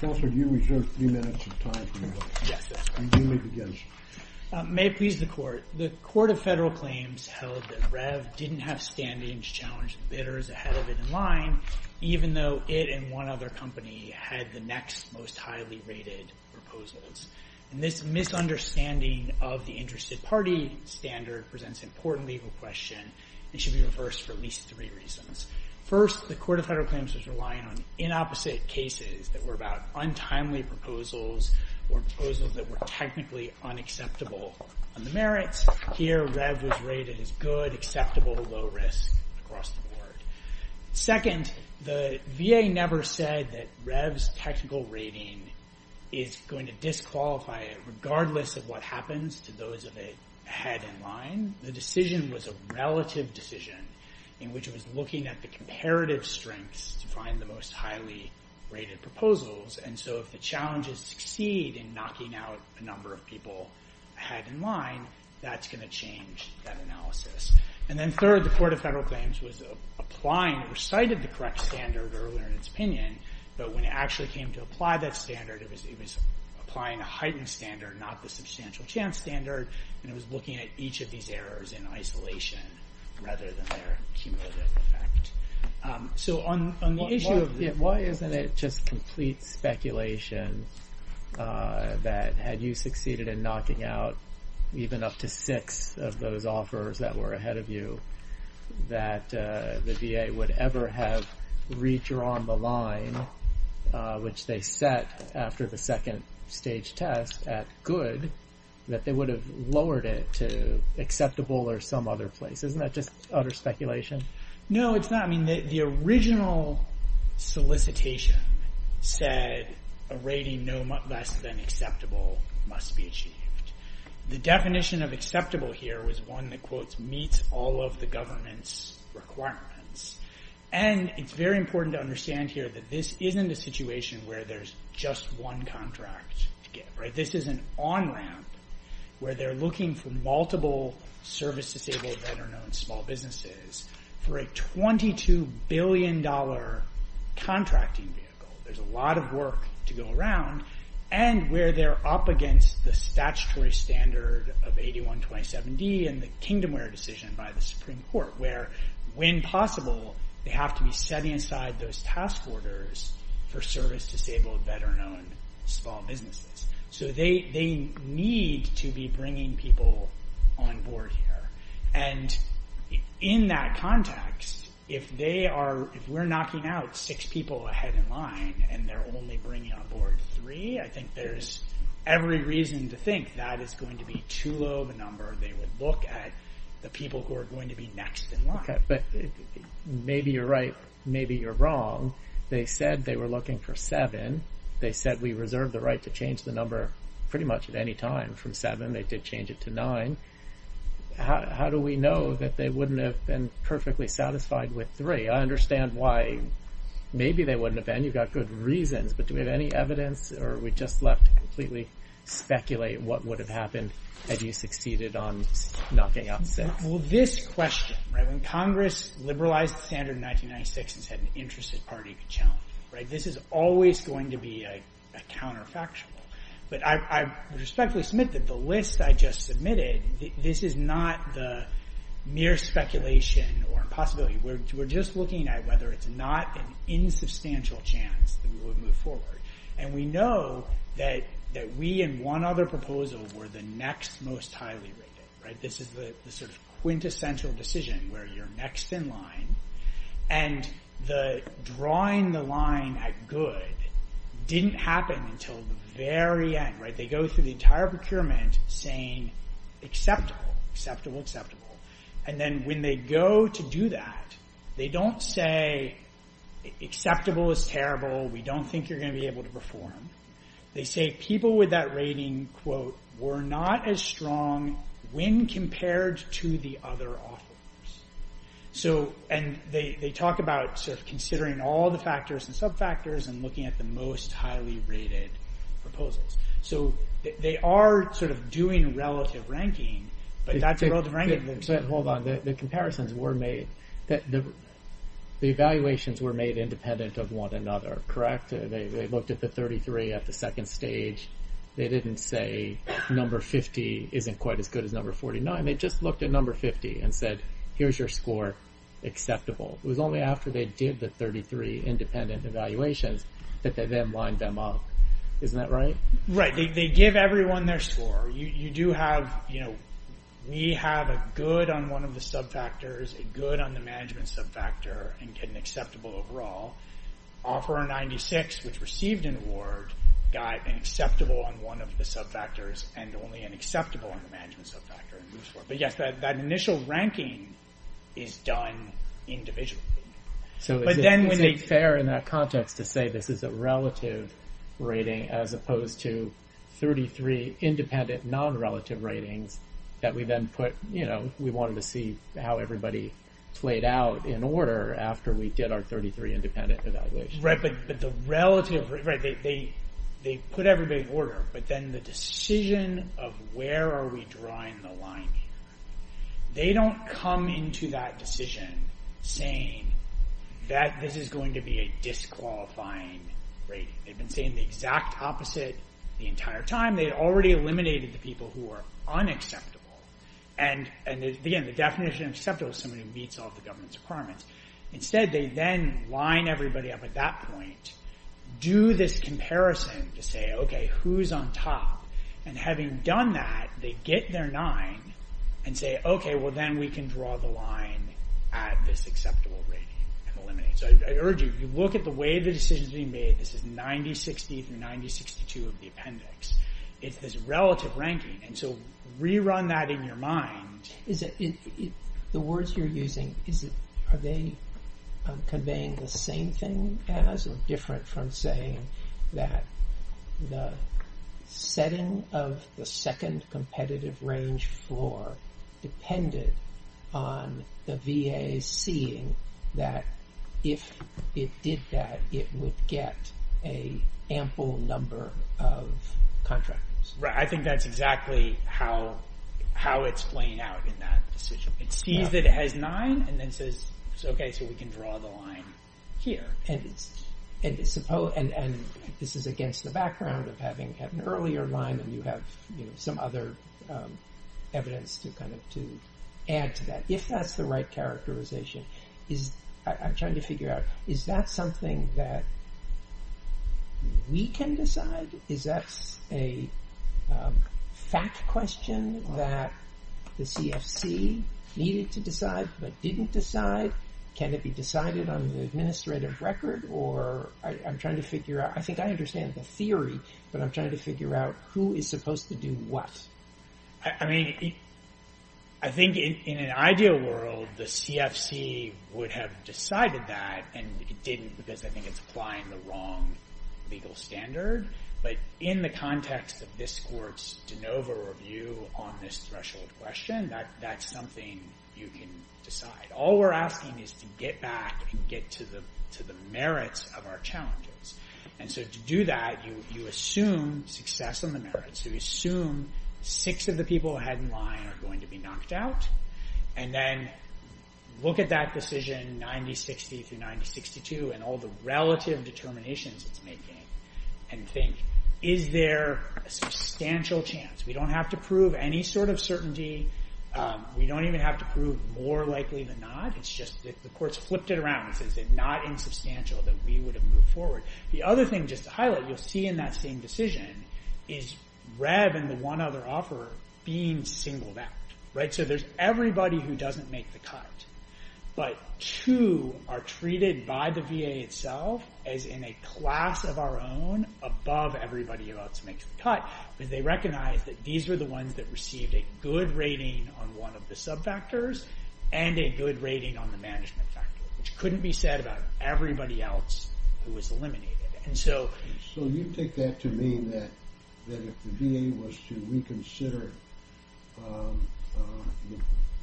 May it please the Court, the Court of Federal Claims held that REV didn't have standings challenging bidders ahead of it in line, even though it and one other company had the next most highly rated proposals, and this misunderstanding of the interested party standard presents important legal question. It should be reversed for at least three reasons. First, the Court of Federal Claims was relying on inopposite cases that were about untimely proposals or proposals that were technically unacceptable on the merits. Here REV was rated as good, acceptable, low risk across the board. Second, the VA never said that REV's technical rating is going to disqualify it decision was a relative decision in which it was looking at the comparative strengths to find the most highly rated proposals, and so if the challenges succeed in knocking out a number of people ahead in line, that's going to change that analysis. And then third, the Court of Federal Claims was applying, recited the correct standard earlier in its opinion, but when it actually came to apply that standard, it was applying a heightened standard, not the substantial chance standard, and it was looking at each of these errors in isolation, rather than their cumulative effect. So on the issue of why isn't it just complete speculation that had you succeeded in knocking out even up to six of those offers that were ahead of you, that the VA would ever have redrawn the line which they set after the second stage test at good, that they would have lowered it to acceptable or some other place. Isn't that just utter speculation? No, it's not. I mean, the original solicitation said a rating no less than acceptable must be achieved. The definition of acceptable here was one that, quote, meets all of the government's requirements. And it's very important to understand here that this isn't a situation where there's just one contract to give. This is an on-ramp where they're looking for multiple service-disabled, veteran-owned small businesses for a $22 billion contracting vehicle. There's a lot of work to go around, and where they're up against the statutory standard of 8127D and the Kingdomware decision by the Supreme Court where, when possible, they have to be setting aside those task orders for service-disabled, veteran-owned small businesses. So they need to be bringing people on board here. And in that context, if we're knocking out six people ahead in line and they're only bringing on board three, I think there's every reason to think that is going to be too low of a number. They would look at the people who are going to be next in line. Okay, but maybe you're right, maybe you're wrong. They said they were looking for seven. They said we reserved the right to change the number pretty much at any time from seven. They did change it to nine. How do we know that they wouldn't have been perfectly satisfied with three? I understand why maybe they wouldn't have been. You've got good reasons, but do we have any evidence, or are we knocking out six? Well, this question, when Congress liberalized the standard in 1996 and said an interested party could challenge it, this is always going to be a counterfactual. But I respectfully submit that the list I just submitted, this is not the mere speculation or impossibility. We're just looking at whether it's not an insubstantial chance that we would move forward. We know that we in one other proposal were the next most highly rated. This is the sort of quintessential decision where you're next in line. Drawing the line at good didn't happen until the very end. They go through the entire procurement saying acceptable, acceptable, acceptable. Then when they go to do that, they don't say acceptable is terrible, we don't think you're going to be able to perform. They say people with that rating, quote, were not as strong when compared to the other offers. They talk about considering all the factors and sub-factors and looking at the most highly rated proposals. They are sort of doing relative ranking, but that's relative ranking. Hold on, the comparisons were made, the evaluations were made independent of one another, correct? They looked at the 33 at the second stage. They didn't say number 50 isn't quite as good as number 49. They just looked at number 50 and said, here's your score, acceptable. It was only after they did the 33 independent evaluations that they then lined them up. Isn't that right? Right. They give everyone their score. You do have, you know, we have a good on one of the received an award, got an acceptable on one of the sub-factors, and only an acceptable on the management sub-factor, and moves forward. But yes, that initial ranking is done individually. So it's fair in that context to say this is a relative rating as opposed to 33 independent non-relative ratings that we then put, you know, we wanted to see how everybody played out in order after we did our 33 independent evaluations. Right, but the relative... They put everybody in order, but then the decision of where are we drawing the line here? They don't come into that decision saying that this is going to be a disqualifying rating. They've been saying the exact opposite the entire time. They already eliminated the people who are unacceptable. And again, the definition of acceptable is someone who meets all the government's requirements. Instead, they then line everybody up at that point, do this comparison to say, okay, who's on top? And having done that, they get their nine and say, okay, well, then we can draw the line at this acceptable rating and eliminate. So I urge you, you look at the way the decision's being made. This is 9060 through 9062 of the appendix. It's this relative ranking. And so rerun that in your mind. The words you're using, are they conveying the same thing as or different from saying that the setting of the second competitive range floor depended on the VA seeing that if it did that, it would get a ample number of contractors? Right. I think that's exactly how it's playing out in that decision. It sees that it has nine and then says, okay, so we can draw the line here. And this is against the background of having had an earlier line and you have some other evidence to kind of to add to that. If that's the right characterization, I'm trying to figure out, is that something that we can decide? Is that a fact question that the CFC needed to decide, but didn't decide? Can it be decided on the administrative record? Or I'm trying to figure out, I think I understand the theory, but I'm trying to figure out who is supposed to do what. I mean, I think in an ideal world, the CFC would have decided that and it didn't because I think it's applying the wrong legal standard. But in the context of this court's de novo review on this threshold question, that's something you can decide. All we're asking is to get back and get to the merits of our challenges. And so to do that, you assume success on the merits. You assume six of the people ahead in line are going to be the determinations it's making and think, is there a substantial chance? We don't have to prove any sort of certainty. We don't even have to prove more likely than not. It's just that the court's flipped it around and says it's not insubstantial that we would have moved forward. The other thing, just to highlight, you'll see in that same decision is Rev and the one other offeror being singled out. So there's everybody who doesn't make the cut, but two are treated by the VA itself as in a class of our own above everybody else who makes the cut. They recognize that these are the ones that received a good rating on one of the sub factors and a good rating on the management factor, which couldn't be said about everybody else who was eliminated. So you take that to mean that if the VA was to reconsider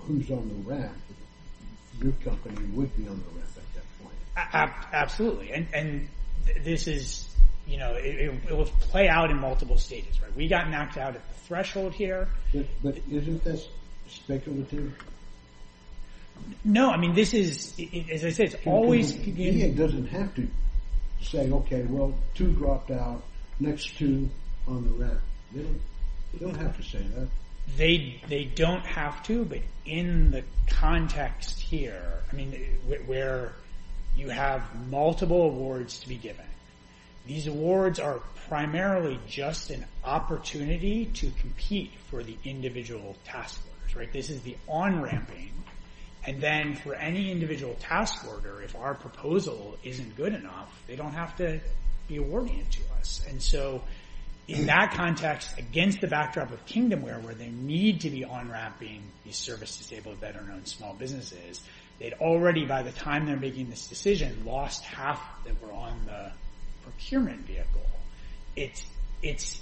who's on the rack, your company would be on the rack at that point? Absolutely. And this is, you know, it will play out in multiple stages. We got knocked out at the threshold here. But isn't this speculative? No, I mean, this is, as I said, it's always... The VA doesn't have to say, OK, well, two dropped out, next two on the rack. They don't have to say that. They don't have to, but in the context here, I mean, where you have multiple awards to be given, these awards are primarily just an opportunity to compete for the individual task force, right? This is the on-ramping. And then for any individual task order, if our proposal isn't good enough, they don't have to be awarding it to us. And so in that context, against the backdrop of Kingdomware, where they need to be on-ramping these service-disabled, better-known small businesses, they'd already, by the time they're making this decision, lost half that were on the procurement vehicle. It's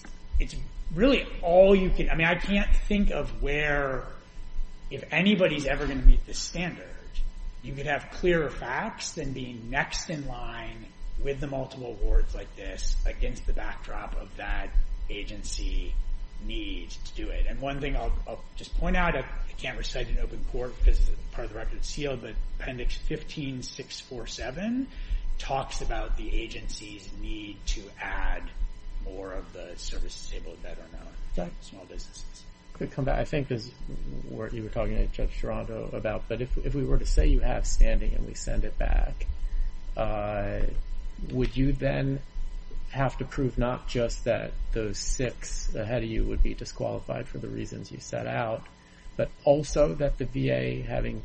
really all you can... I mean, I can't think of where, if anybody's ever going to meet this standard, you could have clearer facts than being next in line with the multiple awards like this against the backdrop of that agency needs to do it. And one thing I'll just point out, I can't recite it in open court because part of the record is sealed, but Appendix 15-647 talks about the agency's need to add more of the service-disabled, better-known small businesses. Quick come back. I think this is what you were talking to Judge Gerardo about, but if we were to say you have standing and we send it back, would you then have to prove not just that those six ahead of you would be disqualified for the reasons you set out, but also that the VA, having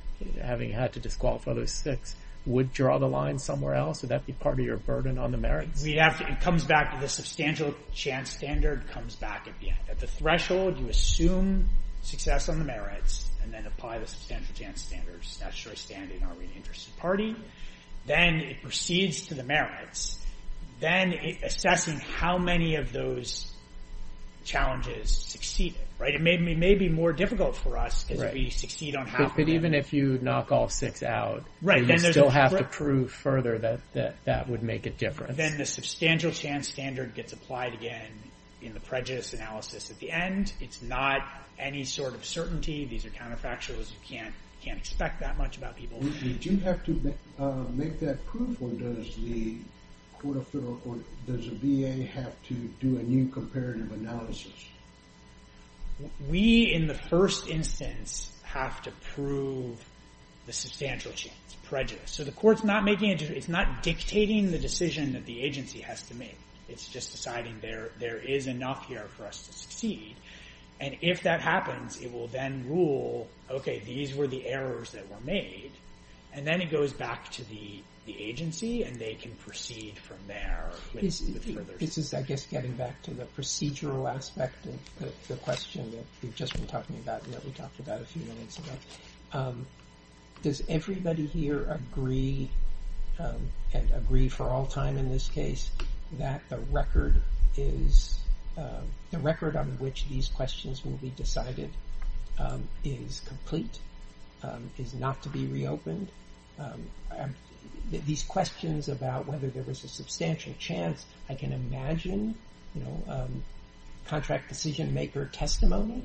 had to disqualify those six, would draw the line somewhere else? Would that be part of your burden on the merits? We'd have to... It comes back to the substantial chance standard, comes back at the threshold. You assume success on the merits and then apply the substantial chance standards. That's your standing. Are we an interested party? Then it proceeds to the merits. Then assessing how many of those challenges succeeded, right? It may be more difficult for us if we succeed on how many. Even if you knock all six out, you still have to prove further that that would make a difference. Then the substantial chance standard gets applied again in the prejudice analysis at the end. It's not any sort of certainty. These are counterfactuals. You can't expect that much about people. Do you have to make that proof or does the VA have to do a new comparative analysis? We, in the first instance, have to prove the substantial chance prejudice. So the court's not making a decision. It's not dictating the decision that the agency has to make. It's just deciding there is enough here for us to succeed. And if that happens, it will then rule, okay, these were the errors that were made. And then it goes back to the agency and they can proceed from there with further... This is, I guess, getting back to the procedural aspect of the question that we've just been talking about and that we talked about a few minutes ago. Does everybody here agree, and agree for all time in this case, that the record on which these questions will be decided is complete, is not to be reopened? These questions about whether there was a substantial chance, I can imagine, you know, contract decision-maker testimony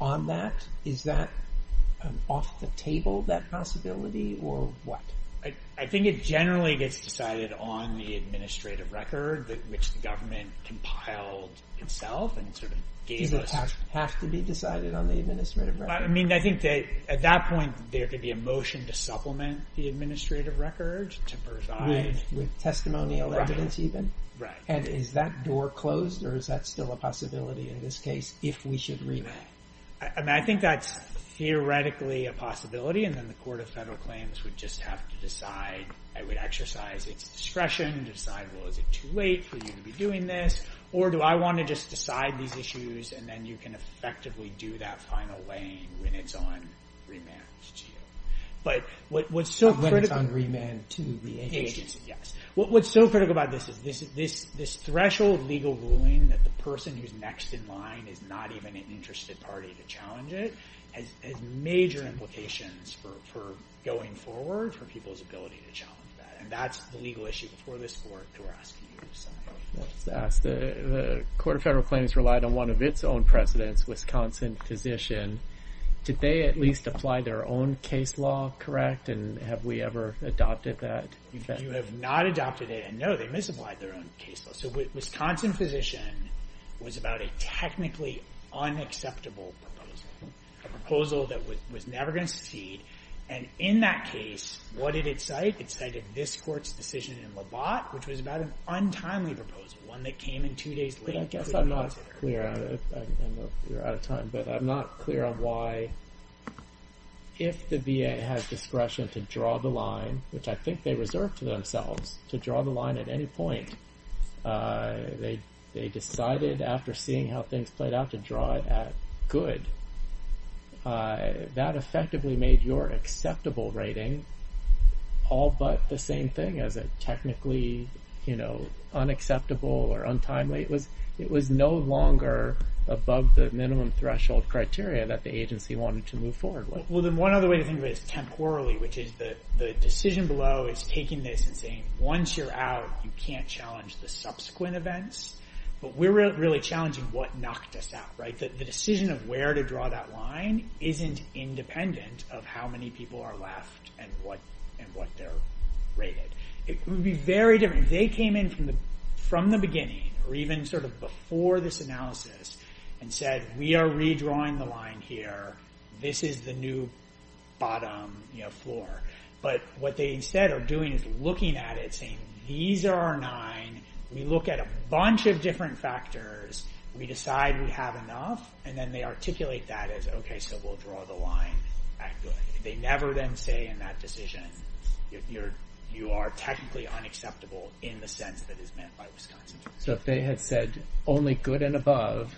on that. Is that off the table, that possibility, or what? I think it generally gets decided on the administrative record which the government compiled itself and sort of gave us. Does it have to be decided on the administrative record? I mean, I think that at that point, there could be a motion to supplement the administrative record, to preside. With testimonial evidence, even? Right. And is that door closed, or is that still a possibility in this case, if we should reopen? I mean, I think that's theoretically a possibility, and then the Court of Federal Claims would just have to decide. It would exercise its discretion and decide, well, is it too late for you to be doing this? Or do I want to just decide these issues and then you can effectively do that final laying when it's on remand to you? But what's so critical... When it's on remand to the agency. Yes. What's so critical about this is this threshold legal ruling that the person who's next in line is not even an interested party to challenge it has major implications for going forward for people's ability to challenge that. And that's the legal issue before this Court, that we're asking you to decide. I'll just ask, the Court of Federal Claims relied on one of its own presidents, Wisconsin Physician. Did they at least apply their own case law, correct? And have we ever adopted that? You have not adopted it, and no, they misapplied their own case law. So Wisconsin Physician was about a technically unacceptable proposal. A proposal that was never going to succeed. And in that case, what did it cite? It cited this Court's decision in Labatt, which was about an untimely proposal. One that came in two days late. But I guess I'm not clear on it. I know you're out of time, but I'm not clear on why, if the VA has discretion to draw the line, which I think they reserve to themselves to draw the line at any point. They decided after seeing how things played out to draw it at good. That effectively made your acceptable rating all but the same thing as a technically unacceptable or untimely. It was no longer above the minimum threshold criteria that the agency wanted to move forward with. Well, then one other way to think of it is temporally, which is the decision below is taking this and saying, once you're out, you can't challenge the subsequent events. But we're really challenging what knocked us out, right? The decision of where to draw that line isn't independent of how many people are left and what they're rated. It would be very different if they came in from the beginning or even sort of before this analysis and said, we are redrawing the line here. This is the new bottom floor. But what they instead are doing is looking at it, saying these are our nine. We look at a bunch of different factors. We decide we have enough. And then they articulate that as, OK, so we'll draw the line at good. They never then say in that decision, you are technically unacceptable in the sense that it's meant by Wisconsin. So if they had said only good and above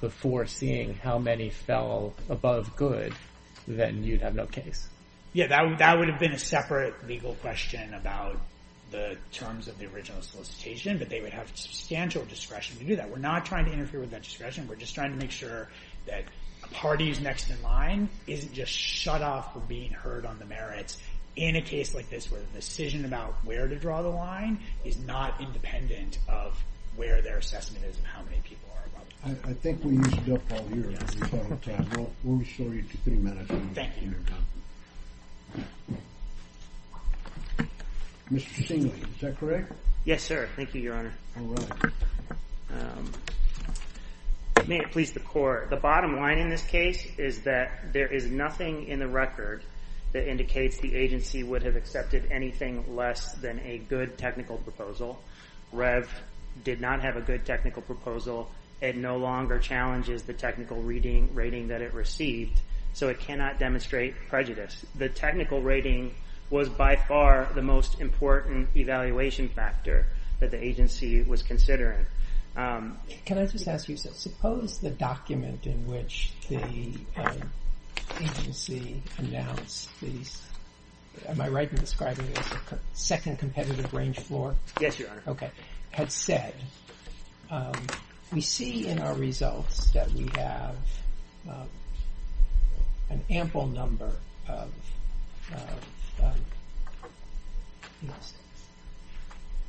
before seeing how many fell above good, then you'd have no case? Yeah, that would have been a separate legal question about the terms of the original solicitation. But they would have substantial discretion to do that. We're not trying to interfere with that discretion. We're just trying to make sure that a party who's next in line isn't just shut off from being heard on the merits in a case like this where the decision about where to draw the line is not independent of where their assessment is and how many people are above good. I think we used up all your time. We'll restore you to three minutes. Thank you. Mr. Singley, is that correct? Yes, sir. Thank you, Your Honor. May it please the Court. The bottom line in this case is that there is nothing in the record that indicates the agency would have accepted anything less than a good technical proposal. REV did not have a good technical proposal. It no longer challenges the technical rating that it received. So it cannot demonstrate prejudice. The technical rating was by far the most important evaluation factor that the agency was considering. Can I just ask you, suppose the document in which the agency announced these, am I right in describing it as a second competitive range floor? Yes, Your Honor. Had said, we see in our results that we have an ample number of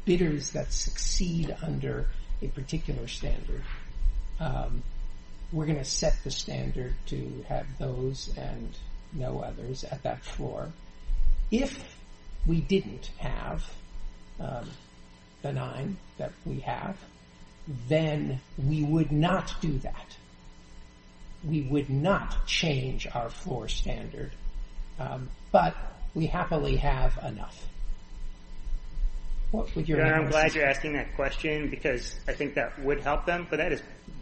bidders that succeed under a particular standard. We're going to set the standard to have those and no others at that floor. If we didn't have the nine that we have, then we would not do that. We would not change our floor standard, but we happily have enough. Your Honor, I'm glad you're asking that question because I think that would help them, but that is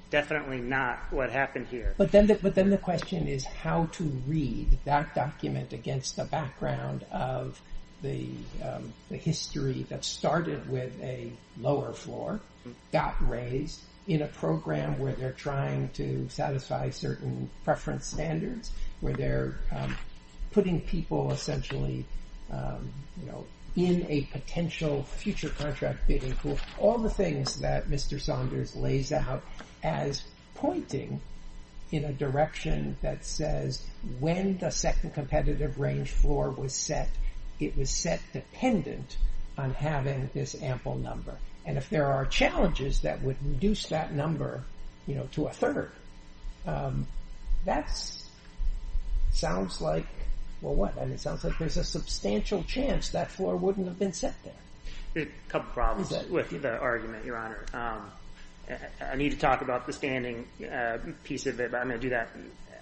definitely not what happened here. But then the question is how to read that document against the background of the history that started with a lower floor, got raised in a program where they're trying to satisfy certain preference standards, where they're putting people essentially in a potential future contract bidding pool. All the things that Mr. Saunders lays out as pointing in a direction that says when the second competitive range floor was set, it was set dependent on having this ample number. And if there are challenges that would reduce that number to a third, that sounds like, well, what? And it sounds like there's a substantial chance that floor wouldn't have been set there. There are a couple of problems with the argument, Your Honor. I need to talk about the standing piece of it, but I'm going to do that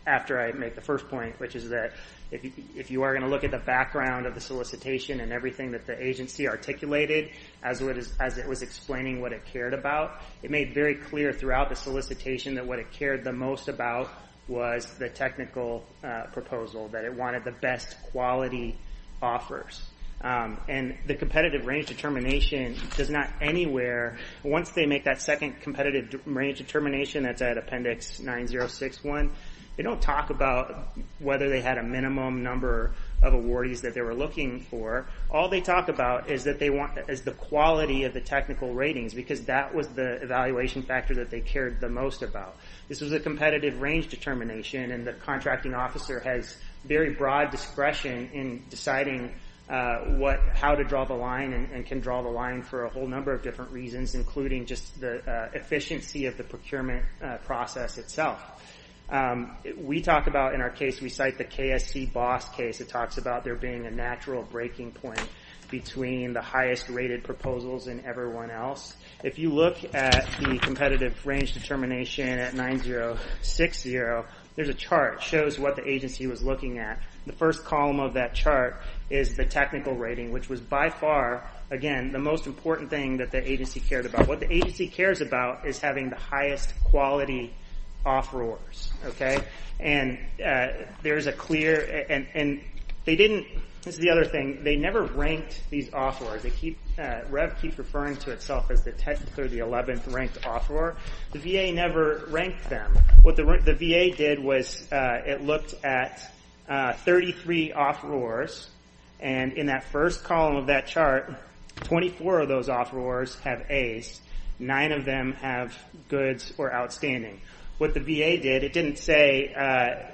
after I make the first point, which is that if you are going to look at the background of the solicitation and everything that the agency articulated as it was explaining what it cared about, it made very clear throughout the solicitation that what it cared the most about was the technical proposal, that it wanted the best quality offers. And the competitive range determination does not anywhere, once they make that second competitive range determination, that's at appendix 9061, they don't talk about whether they had a minimum number of awardees that they were looking for. All they talk about is the quality of the technical ratings because that was the evaluation factor that they cared the most about. This was a competitive range determination, and the contracting officer has very broad discretion in deciding how to draw the line and can draw the line for a whole number of different reasons, including just the efficiency of the procurement process itself. We talk about, in our case, we cite the KSC boss case. It talks about there being a natural breaking point between the highest rated proposals and everyone else. If you look at the competitive range determination at 9060, there's a chart that shows what the agency was looking at. The first column of that chart is the technical rating, which was by far, again, the most important thing that the agency cared about. What the agency cares about is having the highest quality offerors, okay? And there's a clear, and they didn't, this is the other thing, they never ranked these offerors. They keep, REV keeps referring to itself as the 10th or the 11th ranked offeror. The VA never ranked them. What the VA did was it looked at 33 offerors, and in that first column of that chart, 24 of those offerors have A's. Nine of them have goods or outstanding. What the VA did, it didn't say,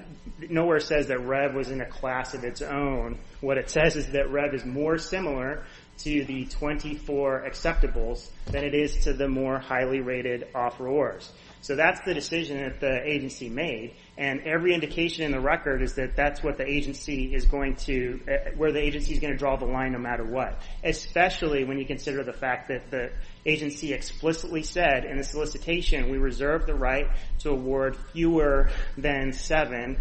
nowhere says that REV was in a class of its own. What it says is that REV is more similar to the 24 acceptables than it is to the more highly rated offerors. So that's the decision that the agency made, and every indication in the record is that that's what the agency is going to, where the agency is going to draw the line no matter what, especially when you consider the fact that the agency explicitly said in the solicitation, we reserve the right to award fewer than seven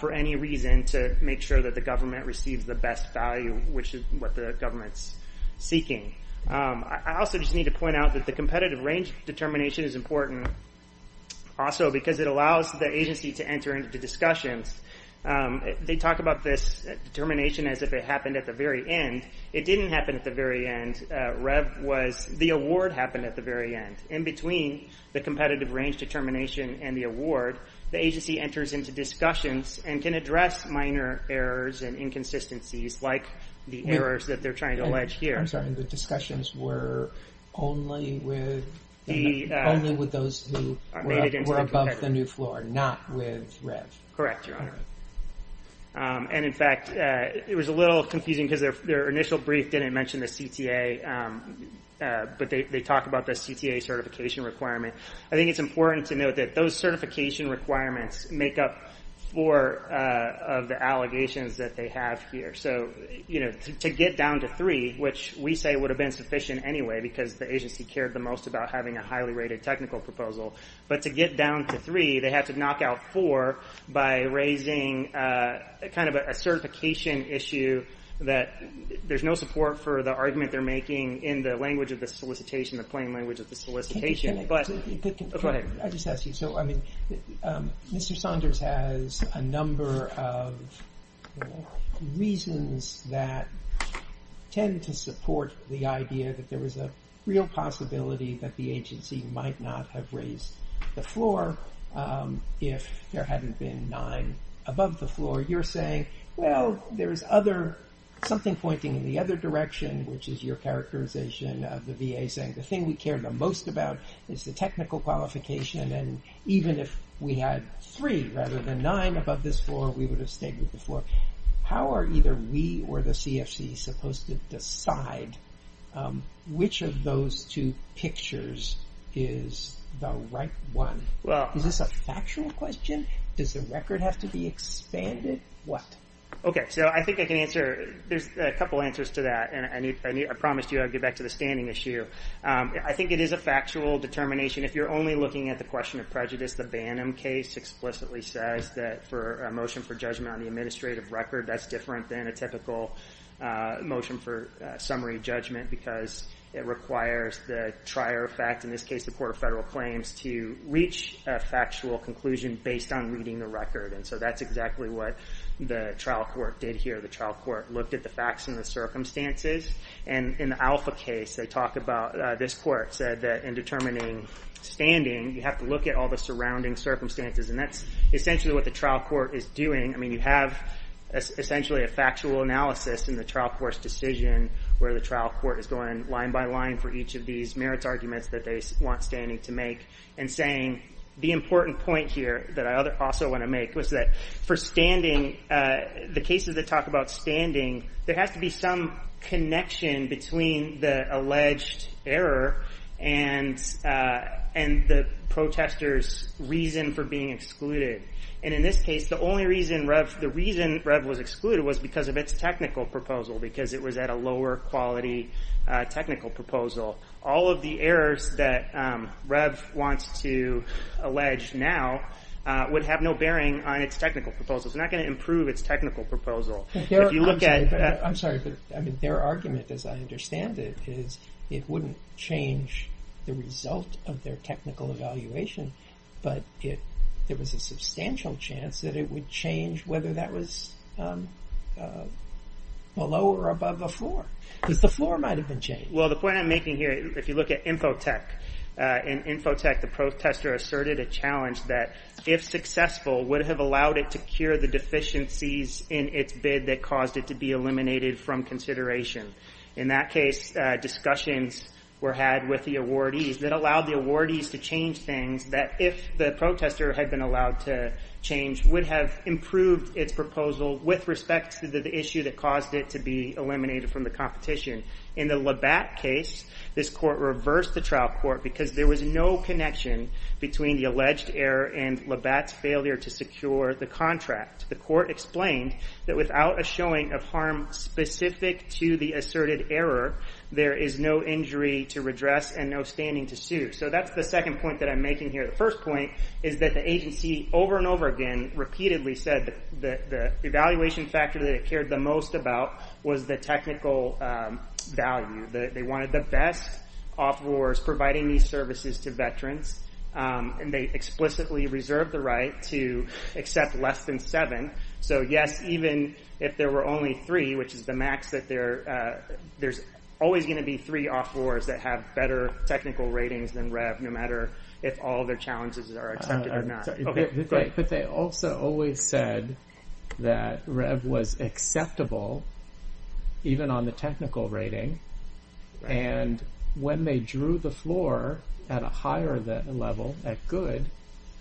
for any reason to make sure that the government receives the best value, which is what the government's seeking. I also just need to point out that the competitive range determination is important also because it allows the agency to enter into discussions. They talk about this determination as if it happened at the very end. It didn't happen at the very end. REV was, the award happened at the very end. In between the competitive range determination and the award, the agency enters into discussions and can address minor errors and inconsistencies like the errors that they're trying to allege here. I'm sorry, the discussions were only with those who were above the new floor, not with REV. Correct, Your Honor. And in fact, it was a little confusing because their initial brief didn't mention the CTA, but they talk about the CTA certification requirement. I think it's important to note that those certification requirements make up four of the allegations that they have here. To get down to three, which we say would have been sufficient anyway because the agency cared the most about having a highly rated technical proposal, but to get down to three, they had to knock out four by raising a certification issue that there's no support for the argument they're making in the language of the solicitation, the plain language of the solicitation. Go ahead. I just ask you, so I mean, Mr. Saunders has a number of reasons that tend to support the idea that there was a real possibility that the agency might not have raised the floor if there hadn't been nine above the floor. You're saying, well, there's other, something pointing in the other direction, which is your characterization of the VA saying the thing we care the most about is the technical qualification, and even if we had three rather than nine above this floor, we would have stayed with the floor. How are either we or the CFC supposed to decide which of those two pictures is the right one? Well, is this a factual question? Does the record have to be expanded? What? Okay, so I think I can answer. There's a couple answers to that, and I promised you I'd get back to the standing issue. I think it is a factual determination. If you're only looking at the question of prejudice, the Bannum case explicitly says that for a motion for judgment on the administrative record, that's different than a typical motion for summary judgment because it requires the trier fact, in this case the court of federal claims, to reach a factual conclusion based on reading the record, and so that's exactly what the trial court did here. The trial court looked at the facts and the circumstances, and in the Alpha case, they talk about, this court said that in determining standing, you have to look at all the surrounding circumstances, and that's essentially what the trial court is doing. I mean, you have essentially a factual analysis in the trial court's decision where the trial court is going line by line for each of these merits arguments that they want standing to make, and saying the important point here that I also want to make was that for standing, the cases that talk about standing, there has to be some connection between the alleged error and the protester's reason for being excluded, and in this case, the only reason REV was excluded was because of its technical proposal because it was at a lower quality technical proposal. All of the errors that REV wants to allege now would have no bearing on its technical proposal. It's not going to improve its technical proposal. If you look at... I'm sorry, but their argument, as I understand it, is it wouldn't change the result of their technical evaluation, but there was a substantial chance that it would change whether that was below or above a floor because the floor might have been changed. Well, the point I'm making here, if you look at Infotech, in Infotech, the protester asserted a challenge that if successful, would have allowed it to cure the deficiencies in its bid that caused it to be eliminated from consideration. In that case, discussions were had with the awardees that allowed the awardees to change things that if the protester had been allowed to change would have improved its proposal with respect to the issue that caused it to be eliminated from the competition. In the Labatt case, this court reversed the trial court because there was no connection between the alleged error and Labatt's failure to secure the contract. The court explained that without a showing of harm specific to the asserted error, there is no injury to redress and no standing to sue. So that's the second point that I'm making here. The first point is that the agency, over and over again, repeatedly said that the evaluation factor that it cared the most about was the technical value. They wanted the best offerors providing these services to veterans, and they explicitly reserved the right to accept less than seven. So yes, even if there were only three, which is the max that there, there's always gonna be three offerors that have better technical ratings than Rev, no matter if all of their challenges are accepted or not. But they also always said that Rev was acceptable even on the technical rating, and when they drew the floor at a higher level, at good,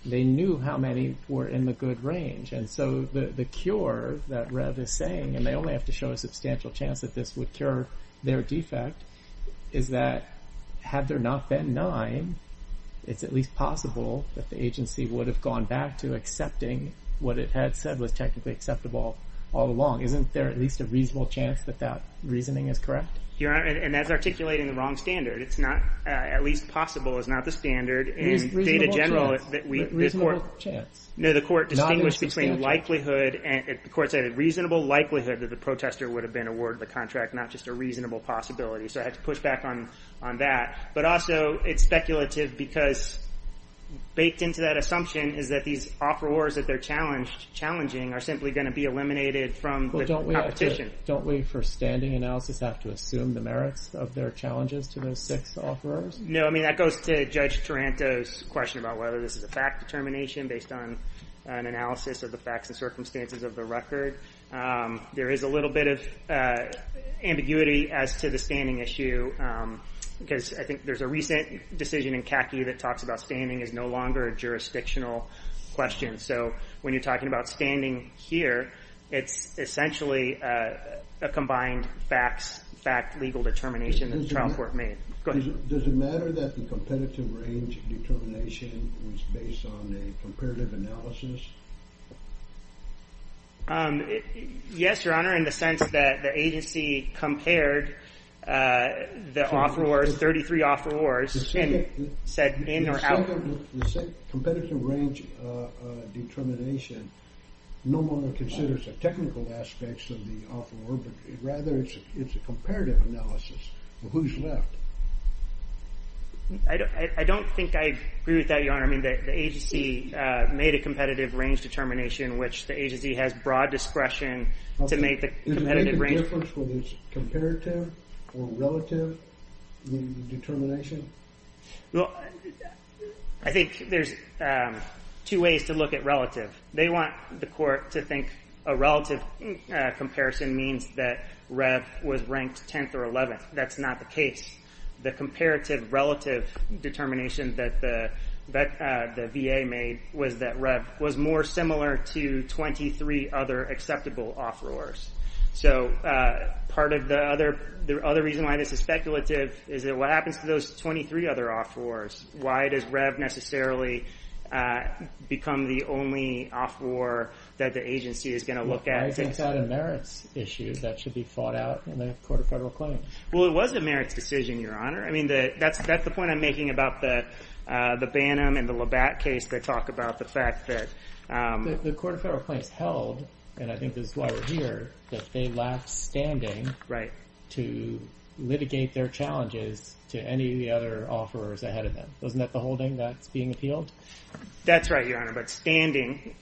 they knew how many were in the good range. And so the cure that Rev is saying, and they only have to show a substantial chance that this would cure their defect, is that had there not been nine, it's at least possible that the agency would have gone back to accepting what it had said was technically acceptable all along. Isn't there at least a reasonable chance that that reasoning is correct? And that's articulating the wrong standard. It's not, at least possible is not the standard. In data general, the court, no, the court distinguished between likelihood, and the court said a reasonable likelihood that the protester would have been awarded the contract, not just a reasonable possibility. So I have to push back on that. But also, it's speculative, because baked into that assumption is that these offerors that they're challenging are simply gonna be eliminated from the competition. Don't we, for standing analysis, have to assume the merits of their challenges to those six offerors? No, I mean, that goes to Judge Taranto's question about whether this is a fact determination based on an analysis of the facts and circumstances of the record. There is a little bit of ambiguity as to the standing issue, because I think there's a recent decision in CACI that talks about standing as no longer a jurisdictional question. So when you're talking about standing here, it's essentially a combined facts, fact, legal determination that the trial court made. Go ahead. Does it matter that the competitive range determination was based on a comparative analysis? Yes, Your Honor, in the sense that the agency compared the offerors, 33 offerors, and said in or out. The same competitive range determination, no longer considers the technical aspects of the offeror, but rather it's a comparative analysis of who's left. I don't think I agree with that, Your Honor. I mean, the agency made a competitive range determination, which the agency has broad discretion to make the competitive range. Does it make a difference whether it's comparative or relative determination? I think there's two ways to look at relative. They want the court to think a relative comparison means that Rev was ranked 10th or 11th. That's not the case. The comparative relative determination that the VA made was that Rev was more similar to 23 other acceptable offerors. So part of the other reason why this is speculative is that what happens to those 23 other offerors? Why does Rev necessarily become the only offeror that the agency is gonna look at? I think that's a merits issue that should be fought out in the Court of Federal Claims. Well, it was a merits decision, Your Honor. I mean, that's the point I'm making about the Bannum and the Labatt case that talk about the fact that... The Court of Federal Claims held, and I think this is why we're here, that they lacked standing to litigate their challenges to any of the other offerors ahead of them. Wasn't that the holding that's being appealed? That's right, Your Honor, but standing,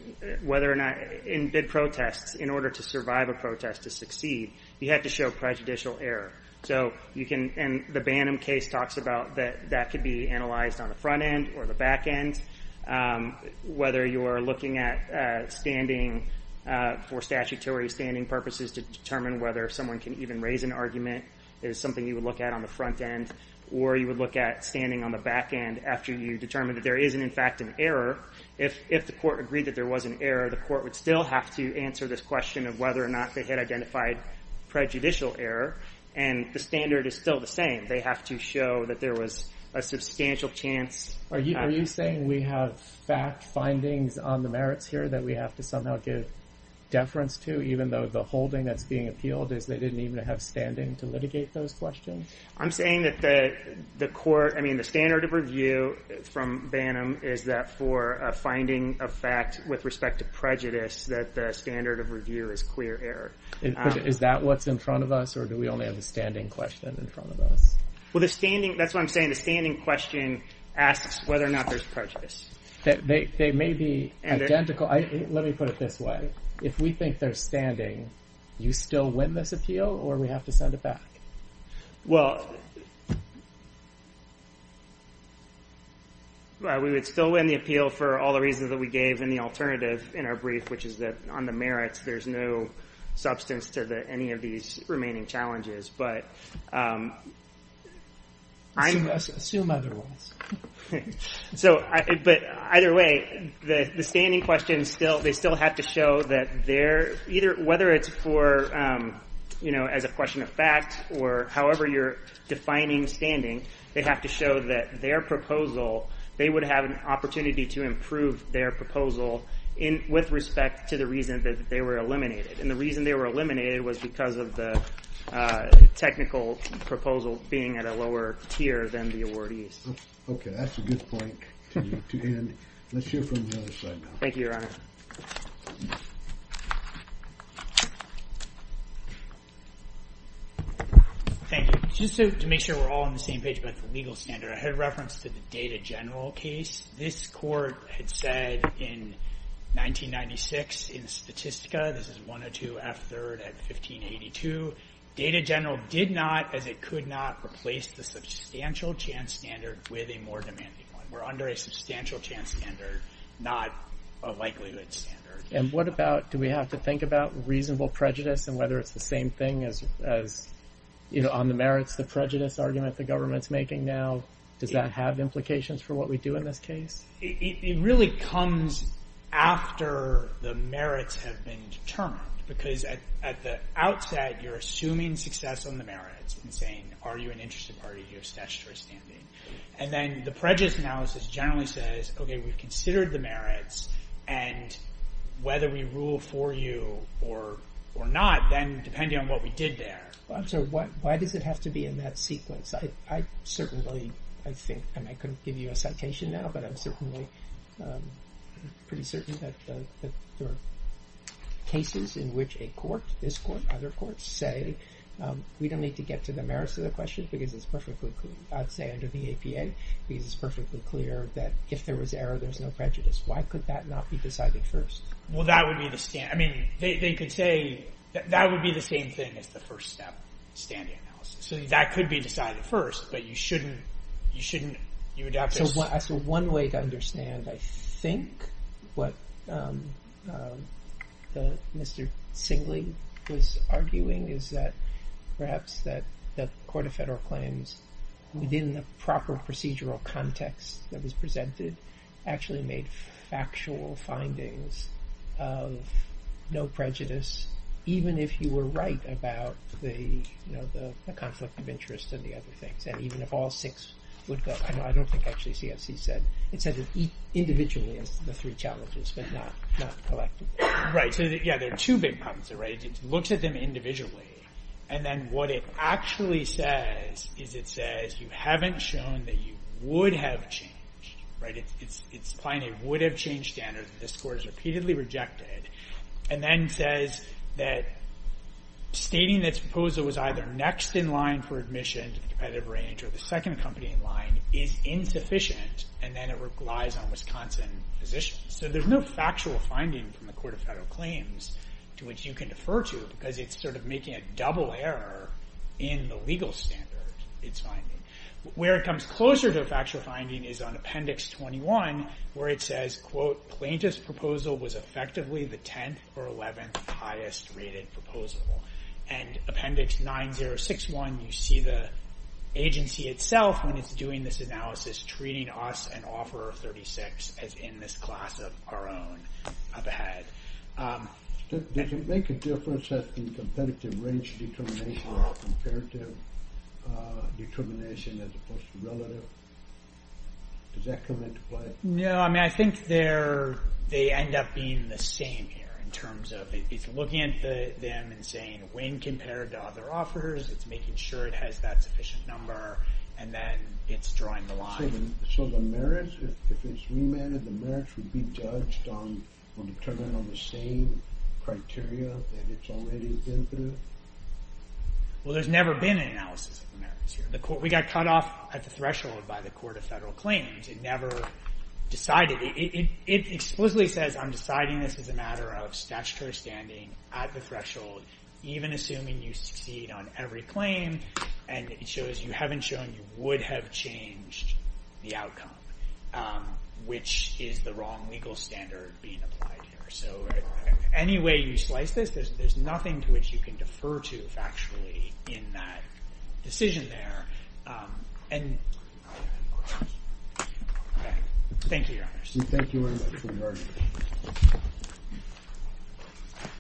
whether or not in bid protests, in order to survive a protest to succeed, you had to show prejudicial error. So you can, and the Bannum case talks about that that could be analyzed on the front end or the back end, whether you're looking at standing for statutory standing purposes to determine whether someone can even raise an argument is something you would look at on the front end, or you would look at standing on the back end after you determine that there isn't, in fact, an error. If the court agreed that there was an error, the court would still have to answer this question of whether or not they had identified prejudicial error, and the standard is still the same. They have to show that there was a substantial chance. Are you saying we have fact findings on the merits here that we have to somehow give deference to, even though the holding that's being appealed is they didn't even have standing to litigate those questions? I'm saying that the court, I mean, the standard of review from Bannum is that for a finding of fact with respect to prejudice, that the standard of review is clear error. Is that what's in front of us, or do we only have the standing question in front of us? Well, the standing, that's what I'm saying. The standing question asks whether or not there's prejudice. They may be identical. Let me put it this way. If we think there's standing, you still win this appeal, or we have to send it back? Well, we would still win the appeal for all the reasons that we gave in the alternative in our brief, which is that on the merits, there's no substance to any of these remaining challenges. Assume otherwise. But either way, the standing question, they still have to show that they're, whether it's for, as a question of fact, or however you're defining standing, they have to show that their proposal, they would have an opportunity to improve their proposal with respect to the reason that they were eliminated. And the reason they were eliminated was because of the technical proposal being at a lower tier than the awardees. Okay, that's a good point to end. Let's hear from the other side now. Thank you, Your Honor. Thank you. Just to make sure we're all on the same page about the legal standard, I had a reference to the Data General case. This court had said in 1996 in Statistica, this is 102 F. 3rd at 1582, Data General did not, as it could not, replace the substantial chance standard with a more demanding one. We're under a substantial chance standard, not a likelihood standard. And what about, do we have to think about reasonable prejudice and whether it's the same thing as on the merits, the prejudice argument the government's making now? Does that have implications for what we do in this case? It really comes after the merits have been determined because at the outset, you're assuming success on the merits and saying, are you an interested party, do you have statutory standing? And then the prejudice analysis generally says, okay, we've considered the merits and whether we rule for you or not, then depending on what we did there. Well, I'm sorry, why does it have to be in that sequence? I certainly think, and I couldn't give you a citation now, but I'm certainly pretty certain that there are cases in which a court, this court, other courts say, we don't need to get to the merits of the question because it's perfectly clear. I'd say under the APA, because it's perfectly clear that if there was error, there's no prejudice. Why could that not be decided first? Well, that would be the stand, I mean, they could say that would be the same thing as the first step, standing analysis. So that could be decided first, but you shouldn't, you adapt this. So one way to understand, I think, what Mr. Singley was arguing is that perhaps that the court of federal claims within the proper procedural context that was presented actually made factual findings of no prejudice, even if you were right about the conflict of interest and the other things. And even if all six would go, I don't think actually CSC said, it said individually as the three challenges, but not collectively. Right, so yeah, there are two big problems there, right? It looks at them individually, and then what it actually says is it says you haven't shown that you would have changed, right? It's applying a would have changed standard that this court has repeatedly rejected, and then says that stating that proposal was either next in line for admission to the competitive range or the second company in line is insufficient, and then it relies on Wisconsin positions. So there's no factual finding from the court of federal claims to which you can defer to, because it's sort of making a double error in the legal standard it's finding. Where it comes closer to a factual finding is on Appendix 21, where it says, quote, plaintiff's proposal was effectively the 10th or 11th highest rated proposal. And Appendix 9061, you see the agency itself when it's doing this analysis, treating us and Offeror 36 as in this class of our own, up ahead. Does it make a difference that the competitive range determination or comparative determination as opposed to relative? Does that come into play? No, I mean, I think they end up being the same here in terms of it's looking at them and saying, when compared to other offers, it's making sure it has that sufficient number, and then it's drawing the line. So the merits, if it's remanded, the merits would be judged on, or determined on the same criteria that it's already been through? Well, there's never been an analysis of the merits here. We got cut off at the threshold by the Court of Federal Claims. It never decided. It explicitly says, I'm deciding this as a matter of statutory standing at the threshold, even assuming you succeed on every claim, and it shows you haven't shown you would have changed the outcome, which is the wrong legal standard being applied here. So any way you slice this, there's nothing to which you can defer to factually in that decision there. Thank you, Your Honor. Thank you very much, we've heard it.